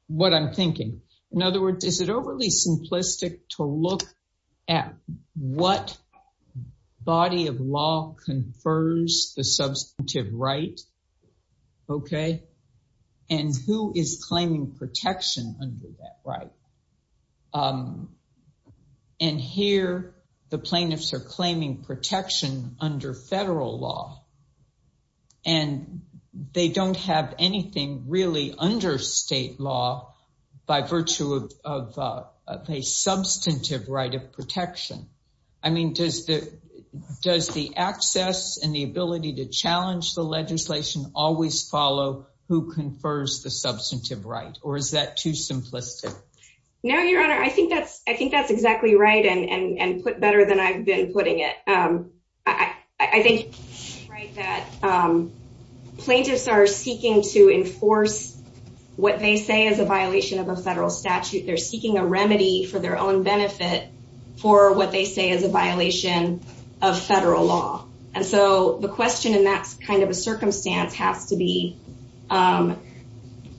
what I'm In other words, is it overly simplistic to look at what body of law confers the substantive right? Okay. And who is claiming protection under that right? And here, the plaintiffs are claiming protection under federal law. And they don't have anything really under state law, by virtue of a substantive right of protection. I mean, does the does the access and the ability to challenge the legislation always follow who confers the substantive right? Or is that too simplistic? No, Your Honor, I think that's I think that's exactly right. And put better than I've been putting it. I think that plaintiffs are seeking to enforce what they say is a violation of a federal statute, they're seeking a remedy for their own benefit, for what they say is a violation of federal law. And so the question in that kind of a circumstance has to be,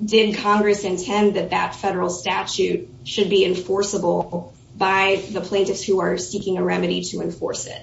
did Congress intend that that federal statute should be enforceable by the plaintiffs who are seeking a remedy to enforce it?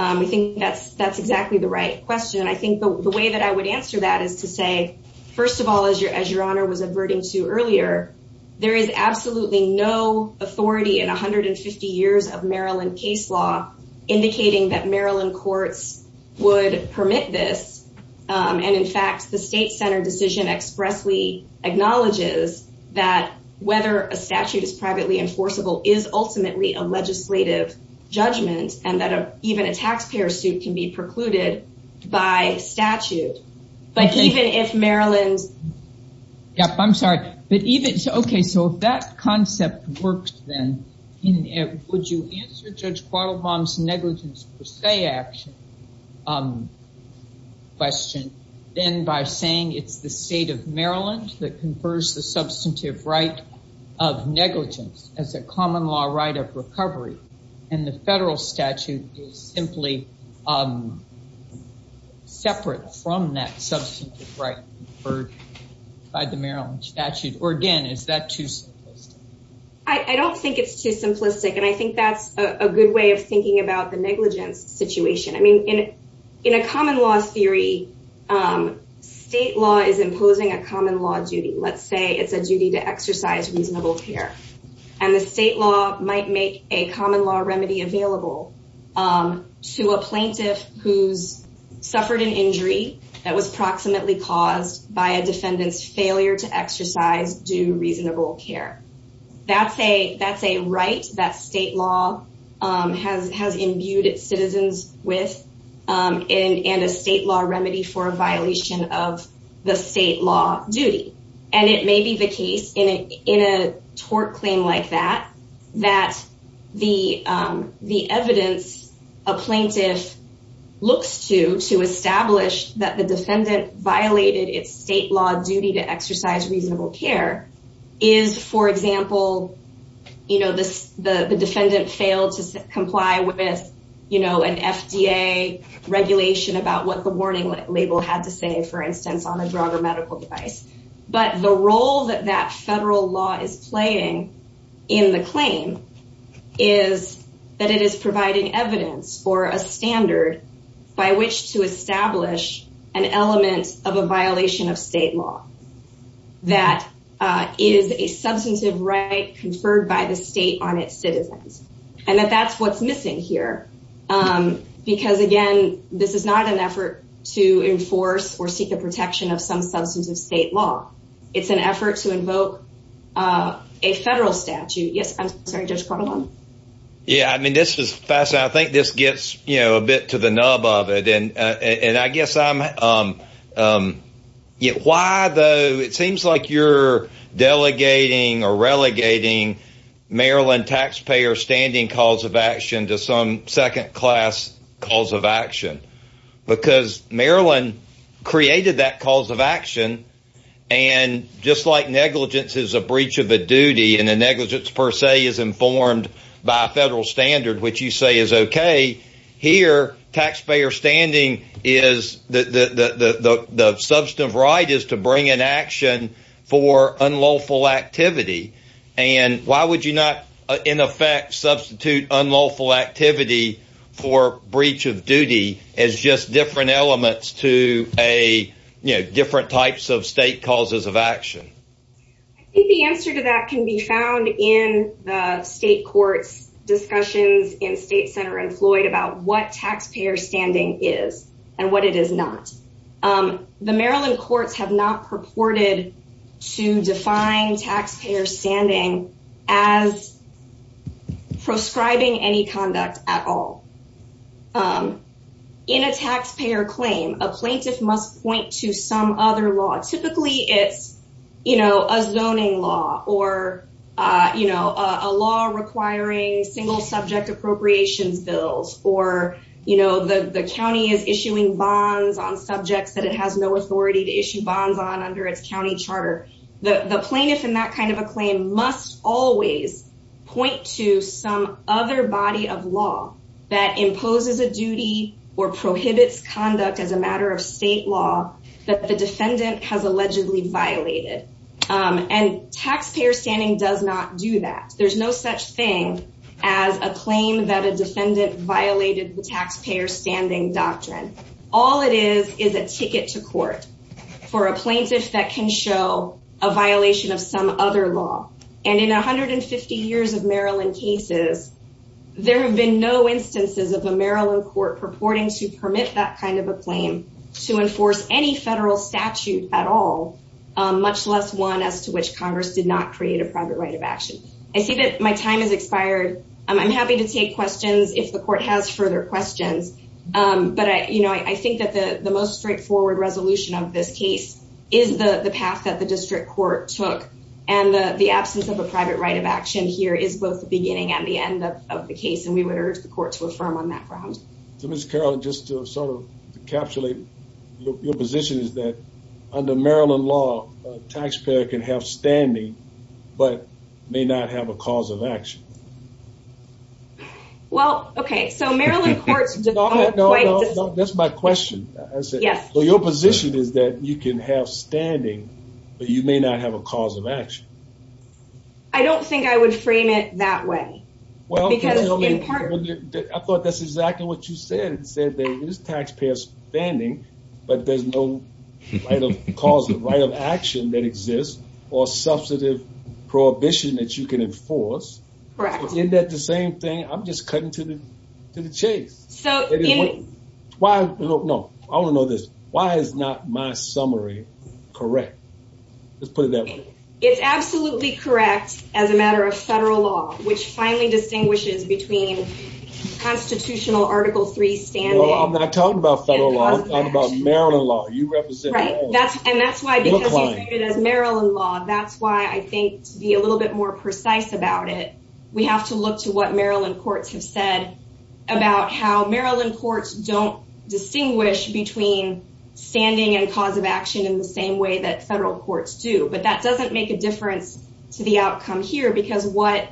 I think that's, that's exactly the right question. And I think the way that I would answer that is to say, first of all, as your as your honor was averting to earlier, there is absolutely no authority in 150 years of Maryland case law, indicating that Maryland courts would permit this. And in fact, the state center decision expressly acknowledges that whether a statute is privately enforceable is ultimately a legislative judgment, and that even a state-by-statute, but even if Maryland's... Yep, I'm sorry. But even so, okay, so if that concept works then, would you answer Judge Quattlebaum's negligence per se action question, then by saying it's the state of Maryland that confers the substantive right of negligence as a common law right of recovery, and the federal statute is simply separate from that substantive right conferred by the Maryland statute? Or again, is that too simplistic? I don't think it's too simplistic. And I think that's a good way of thinking about the negligence situation. I mean, in in a common law theory, state law is imposing a common law duty, let's say it's a duty to exercise reasonable care. And the state law might make a common law remedy available to a plaintiff who's suffered an injury that was proximately caused by a defendant's failure to exercise due reasonable care. That's a right that state law has imbued its citizens with, and a state law remedy for a violation of the state law duty. And it may be the case in a tort claim like that, that the the evidence a plaintiff looks to to establish that the defendant violated its state law duty to exercise reasonable care is, for example, you know, the defendant failed to comply with, you know, an FDA regulation about what the warning label had to say, for instance, on a drug or medical device. But the role that that federal law is playing in the claim is that it is providing evidence or a standard by which to establish an element of a violation of state law, that is a substantive right conferred by the state on its citizens. And that that's what's missing here. Because again, this is not an effort to invoke a federal statute. Yes, I'm sorry, Judge Pardone. Yeah, I mean, this is fascinating. I think this gets, you know, a bit to the nub of it. And, and I guess I'm yet why though, it seems like you're delegating or relegating Maryland taxpayer standing calls of action to some second class calls of action. Because Maryland created that calls of action. And just like negligence is a breach of a duty and the negligence per se is informed by a federal standard, which you say is okay. Here, taxpayer standing is the substantive right is to bring an action for unlawful activity. And why would you not, in effect, substitute unlawful activity for breach of duty as just different elements to a, you know, different types of state causes of action? The answer to that can be found in the state courts discussions in state center employed about what taxpayer standing is, and what it is not. The Maryland courts have not purported to define taxpayer standing as prescribing any conduct at all. In a taxpayer claim, a plaintiff must point to some other law, typically, it's, you know, a zoning law or, you know, a law requiring single subject appropriations bills, or, you know, the county is issuing bonds on subjects that it has no authority to issue bonds on under its county charter, the plaintiff in that kind of a claim must always point to some other body of law that imposes a duty or prohibits conduct as a matter of state law that the defendant has allegedly violated. And taxpayer standing does not do that. There's no such thing as a claim that a defendant violated the taxpayer standing doctrine. All it is, is a ticket to court for a plaintiff that can show a violation of some other law. And in 150 years of Maryland cases, there have been no instances of a Maryland court purporting to permit that kind of a claim to enforce any federal statute at all, much less one as to which Congress did not create a private right of action. I see that my time has expired. I'm happy to take questions if the court has further questions. But I you know, I think that the the most straightforward resolution of this case is the the path that the district court took. And the absence of a private right of action here is both the beginning and the end of the case. And we would urge the court to affirm on that grounds. So Miss Carol, just to sort of encapsulate your position is that under Maryland law, taxpayer can have standing but may not have a cause of action. Well, okay, so Maryland courts That's my question. Yes. So your position is that you can have standing, but you may not have a cause of action. I don't think I would frame it that way. Well, because I thought that's exactly what you said. It said there is taxpayers spending, but there's no right of cause of right of action that exists, or substantive prohibition that you can enforce. Correct. Is that the same thing? I'm just cutting to the chase. So why? No, I want to know this. Why is not my absolutely correct as a matter of federal law, which finally distinguishes between constitutional Article Three standing? I'm not talking about federal law. I'm talking about Maryland law. You represent Maryland. That's and that's why Maryland law. That's why I think to be a little bit more precise about it. We have to look to what Maryland courts have said about how Maryland courts don't distinguish between standing and cause of action in the same way that federal courts do. But that doesn't make a difference to the outcome here. Because what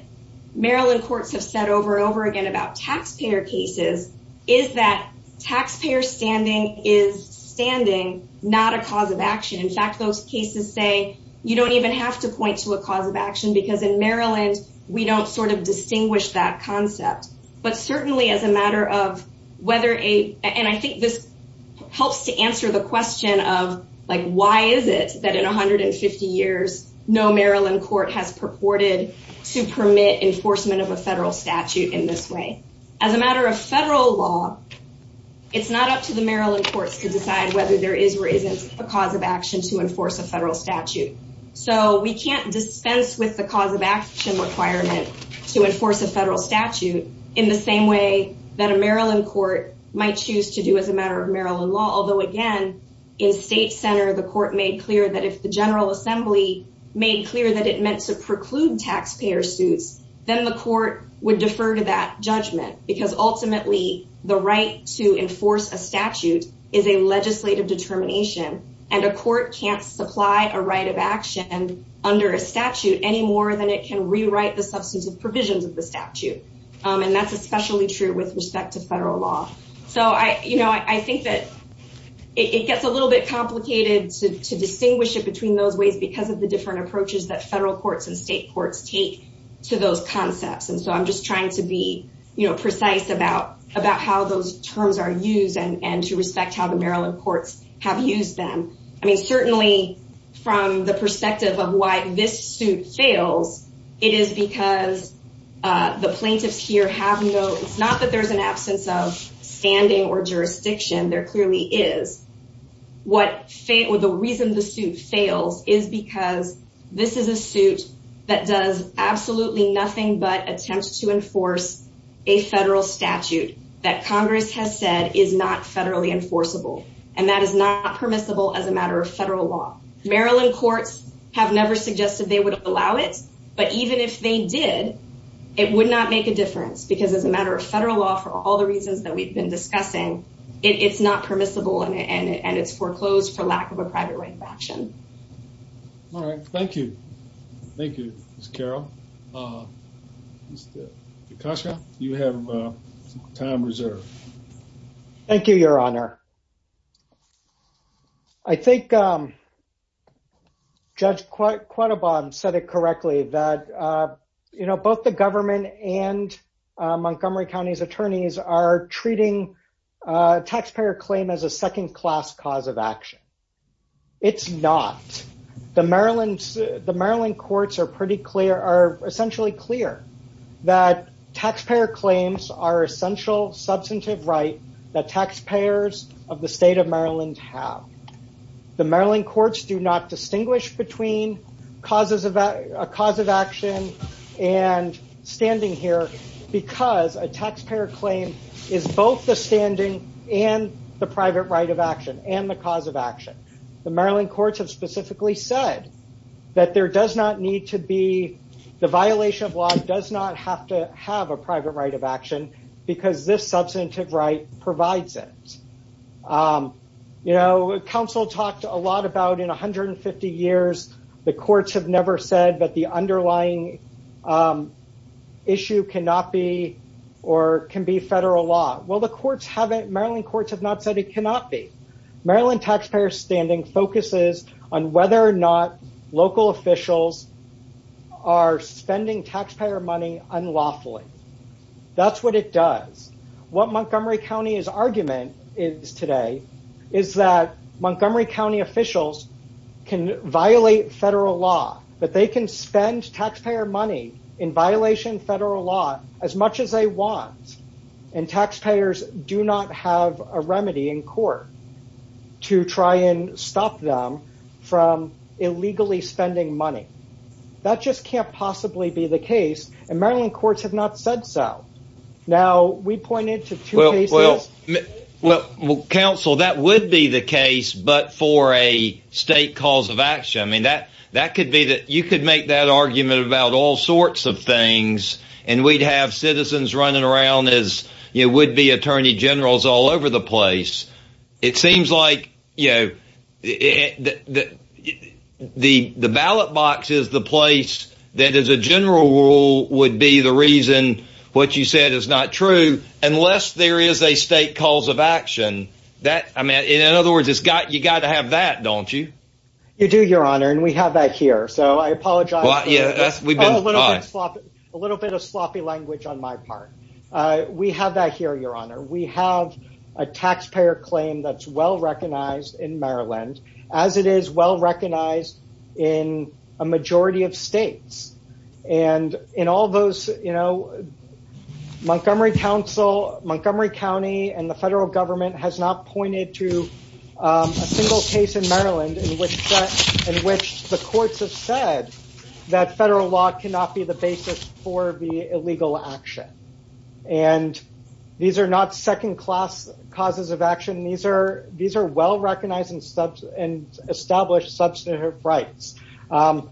Maryland courts have said over and over again about taxpayer cases is that taxpayer standing is standing, not a cause of action. In fact, those cases say, you don't even have to point to a cause of action because in Maryland, we don't sort of distinguish that concept. But certainly as a matter of whether a and I think this helps to answer the question of like, why is it that in 150 years, no Maryland court has purported to permit enforcement of a federal statute in this way. As a matter of federal law, it's not up to the Maryland courts to decide whether there is or isn't a cause of action to enforce a federal statute. So we can't dispense with the cause of action requirement to enforce a federal statute in the same way that a Maryland court might choose to do as a matter of Maryland law. Although again, in state center, the court made clear that if the General Assembly made clear that it meant to preclude taxpayer suits, then the court would defer to that judgment because ultimately, the right to enforce a statute is a legislative determination, and a court can't supply a right of action under a statute any more than it can rewrite the substantive provisions of the statute. And that's especially true with respect to federal law. So I, you know, I think that it gets a little bit complicated to distinguish it between those ways, because of the different approaches that federal courts and state courts take to those concepts. And so I'm just trying to be, you know, precise about about how those terms are used, and to respect how the Maryland courts have used them. I mean, certainly, from the perspective of why this suit fails, it is because the plaintiffs here have no, it's not that there's an absence of standing or jurisdiction, there clearly is. What the reason the suit fails is because this is a suit that does absolutely nothing but attempts to enforce a federal statute that Congress has said is not federally enforceable. And that is not permissible as a matter of federal law. Maryland courts have never suggested they would allow it. But even if they did, it would not make a difference as a matter of federal law for all the reasons that we've been discussing. It's not permissible, and it's foreclosed for lack of a private right of action. All right. Thank you. Thank you, Ms. Carroll. Mr. DeCascio, you have time reserved. Thank you, Your Honor. I think Judge Quettabon said it earlier that the state of Maryland and Montgomery County's attorneys are treating taxpayer claim as a second class cause of action. It's not. The Maryland courts are pretty clear, are essentially clear that taxpayer claims are essential substantive right that taxpayers of the state of Maryland have. The Maryland courts do not distinguish between causes of a cause of action here because a taxpayer claim is both the standing and the private right of action and the cause of action. The Maryland courts have specifically said that there does not need to be the violation of law does not have to have a private right of action because this substantive right provides it. You know, counsel talked a lot about in 150 years, the courts have never said that the underlying issue cannot be or can be federal law. Well, the courts haven't Maryland courts have not said it cannot be. Maryland taxpayer standing focuses on whether or not local officials are spending taxpayer money unlawfully. That's what it does. What Montgomery County is argument is today is that federal law that they can spend taxpayer money in violation federal law as much as they want. And taxpayers do not have a remedy in court to try and stop them from illegally spending money. That just can't possibly be the case. And Maryland courts have not said so. Now we pointed to what will counsel that would be the case but for a state cause of action. I mean, that that could be that you could make that argument about all sorts of things. And we'd have citizens running around as you would be attorney generals all over the place. It seems like you know, that the the ballot box is the place that is a general rule would be the reason what you said is not true. Unless there is a state cause of action that I got you got to have that don't you? You do, Your Honor, and we have that here. So I apologize. Yeah, we've got a little bit of sloppy language on my part. We have that here, Your Honor, we have a taxpayer claim that's well recognized in Maryland, as it is well recognized in a majority of states. And in all those, you know, Montgomery Council, Montgomery County and the federal government has not pointed to a single case in Maryland in which, in which the courts have said that federal law cannot be the basis for the illegal action. And these are not second class causes of action. These are these are well recognized in steps and established substantive rights. And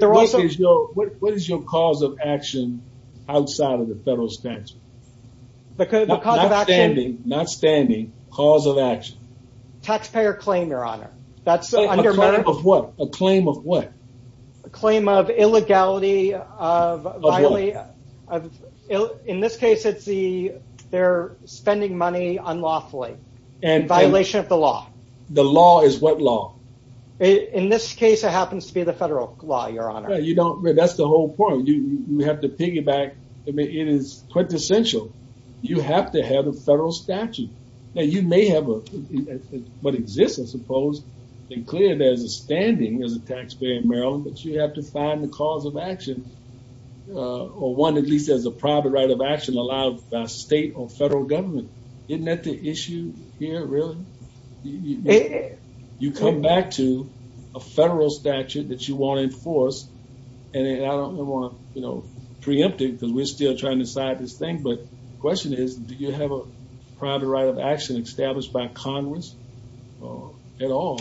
there also is no what is your cause of action outside of federal stance? The cause of action? Not standing, cause of action. Taxpayer claim, Your Honor. That's a claim of what? Claim of illegality of violence. In this case, it's the they're spending money unlawfully and violation of the law. The law is what law? In this case, it happens to be the federal law, Your Honor. You don't. That's the whole point. You have to is quintessential. You have to have a federal statute that you may have a what exists, I suppose, and clear there's a standing as a taxpayer in Maryland, but you have to find the cause of action. Or one at least as a private right of action allowed by state or federal government. Isn't that the issue here? Really? You come back to a federal statute that you want to enforce. And I don't want, you know, preemptive because we're still trying to decide this thing. But the question is, do you have a private right of action established by Congress? At all?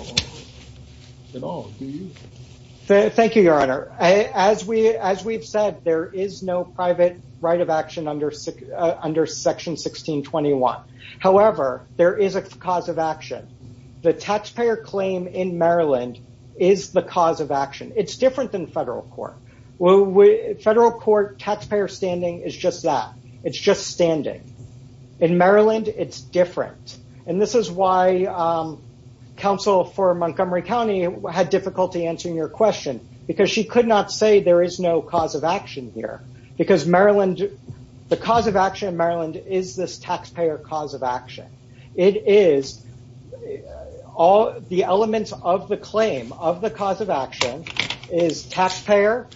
At all? Thank you, Your Honor. As we as we've said, there is no private right of action under under Section 1621. However, there is a cause of action. The taxpayer claim in Maryland is the cause of action. It's different than federal court. Well, we federal court taxpayer standing is just that it's just standing. In Maryland, it's different. And this is why counsel for Montgomery County had difficulty answering your question, because she could not say there is no cause of action here. Because Maryland, the cause of action in Maryland is this taxpayer cause of action. It is all the elements of the claim of the cause of action is taxpayer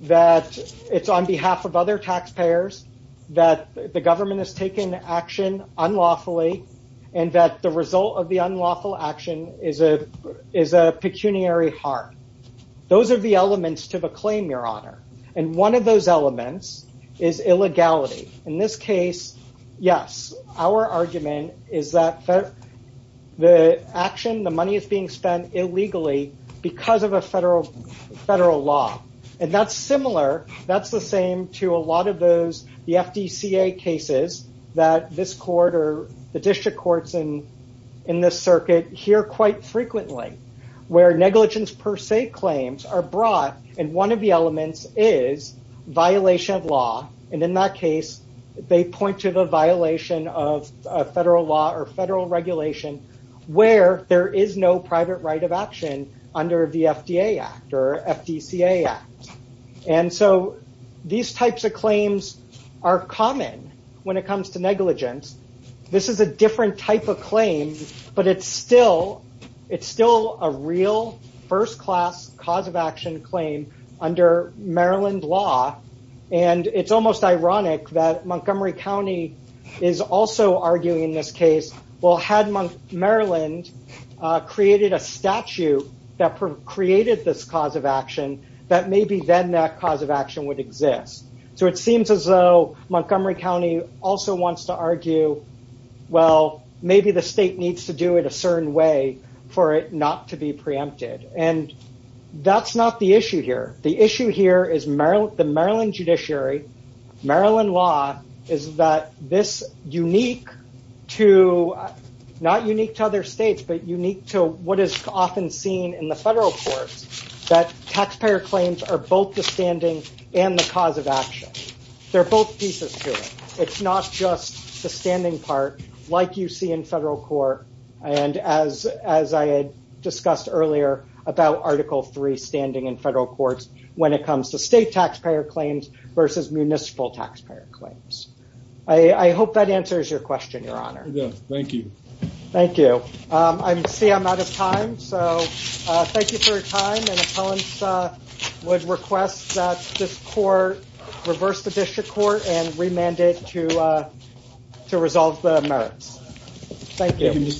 that it's on behalf of other taxpayers, that the government has taken action unlawfully. And that the result of the unlawful action is a is a pecuniary heart. Those are the elements to the claim, Your Honor. And one of those elements is illegality. In this case, yes, our argument is that the action the money is being spent illegally because of a federal federal law. And that's similar. That's the same to a lot of those the FDCA cases that this quarter, the district courts and in this circuit here quite frequently, where negligence per se claims are brought in one of the elements is violation of law. And in that case, they point to the violation of federal law or federal regulation, where there is no private right of action under the FDA act or FDCA. And so these types of claims are common when it comes to negligence. This is a different type of claim. But it's still it's still a real first class cause of action claim under Maryland law. And it's almost ironic that Montgomery County is also arguing in this case, well, had my Maryland created a statute that created this cause of action, that maybe then that cause of action would exist. So it seems as though Montgomery County also wants to argue, well, maybe the state needs to do it a certain way for it not to be preempted. And that's not the issue here. The issue here is Maryland, the Maryland unique to not unique to other states, but unique to what is often seen in the federal courts, that taxpayer claims are both the standing and the cause of action. They're both pieces here. It's not just the standing part, like you see in federal court. And as as I discussed earlier, about Article Three standing in federal courts, when it comes to state taxpayer claims versus municipal taxpayer claims. I hope that answers your question, Your Honor. Thank you. Thank you. I'm see I'm out of time. So thank you for your time. And I would request that this court reverse the district court and remanded to to resolve the merits. Thank you.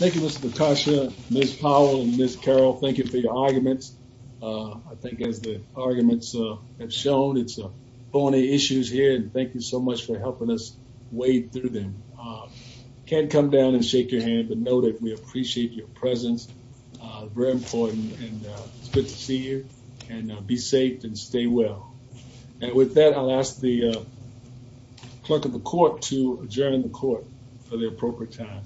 Thank you, Mr. Tasha, Ms. Powell and Ms. Carroll. Thank you for your arguments. I think as the arguments have shown, it's a bony issues here. And thank you so much for helping us wade through them. Can't come down and shake your hand, but know that we appreciate your presence. Very important. And it's good to see you and be safe and stay well. And with that, I'll ask the clerk of the court to adjourn the court for the appropriate time.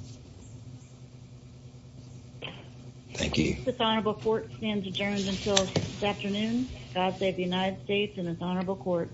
Thank you. This honorable court stands adjourned until this afternoon. God save the United States and its honorable court.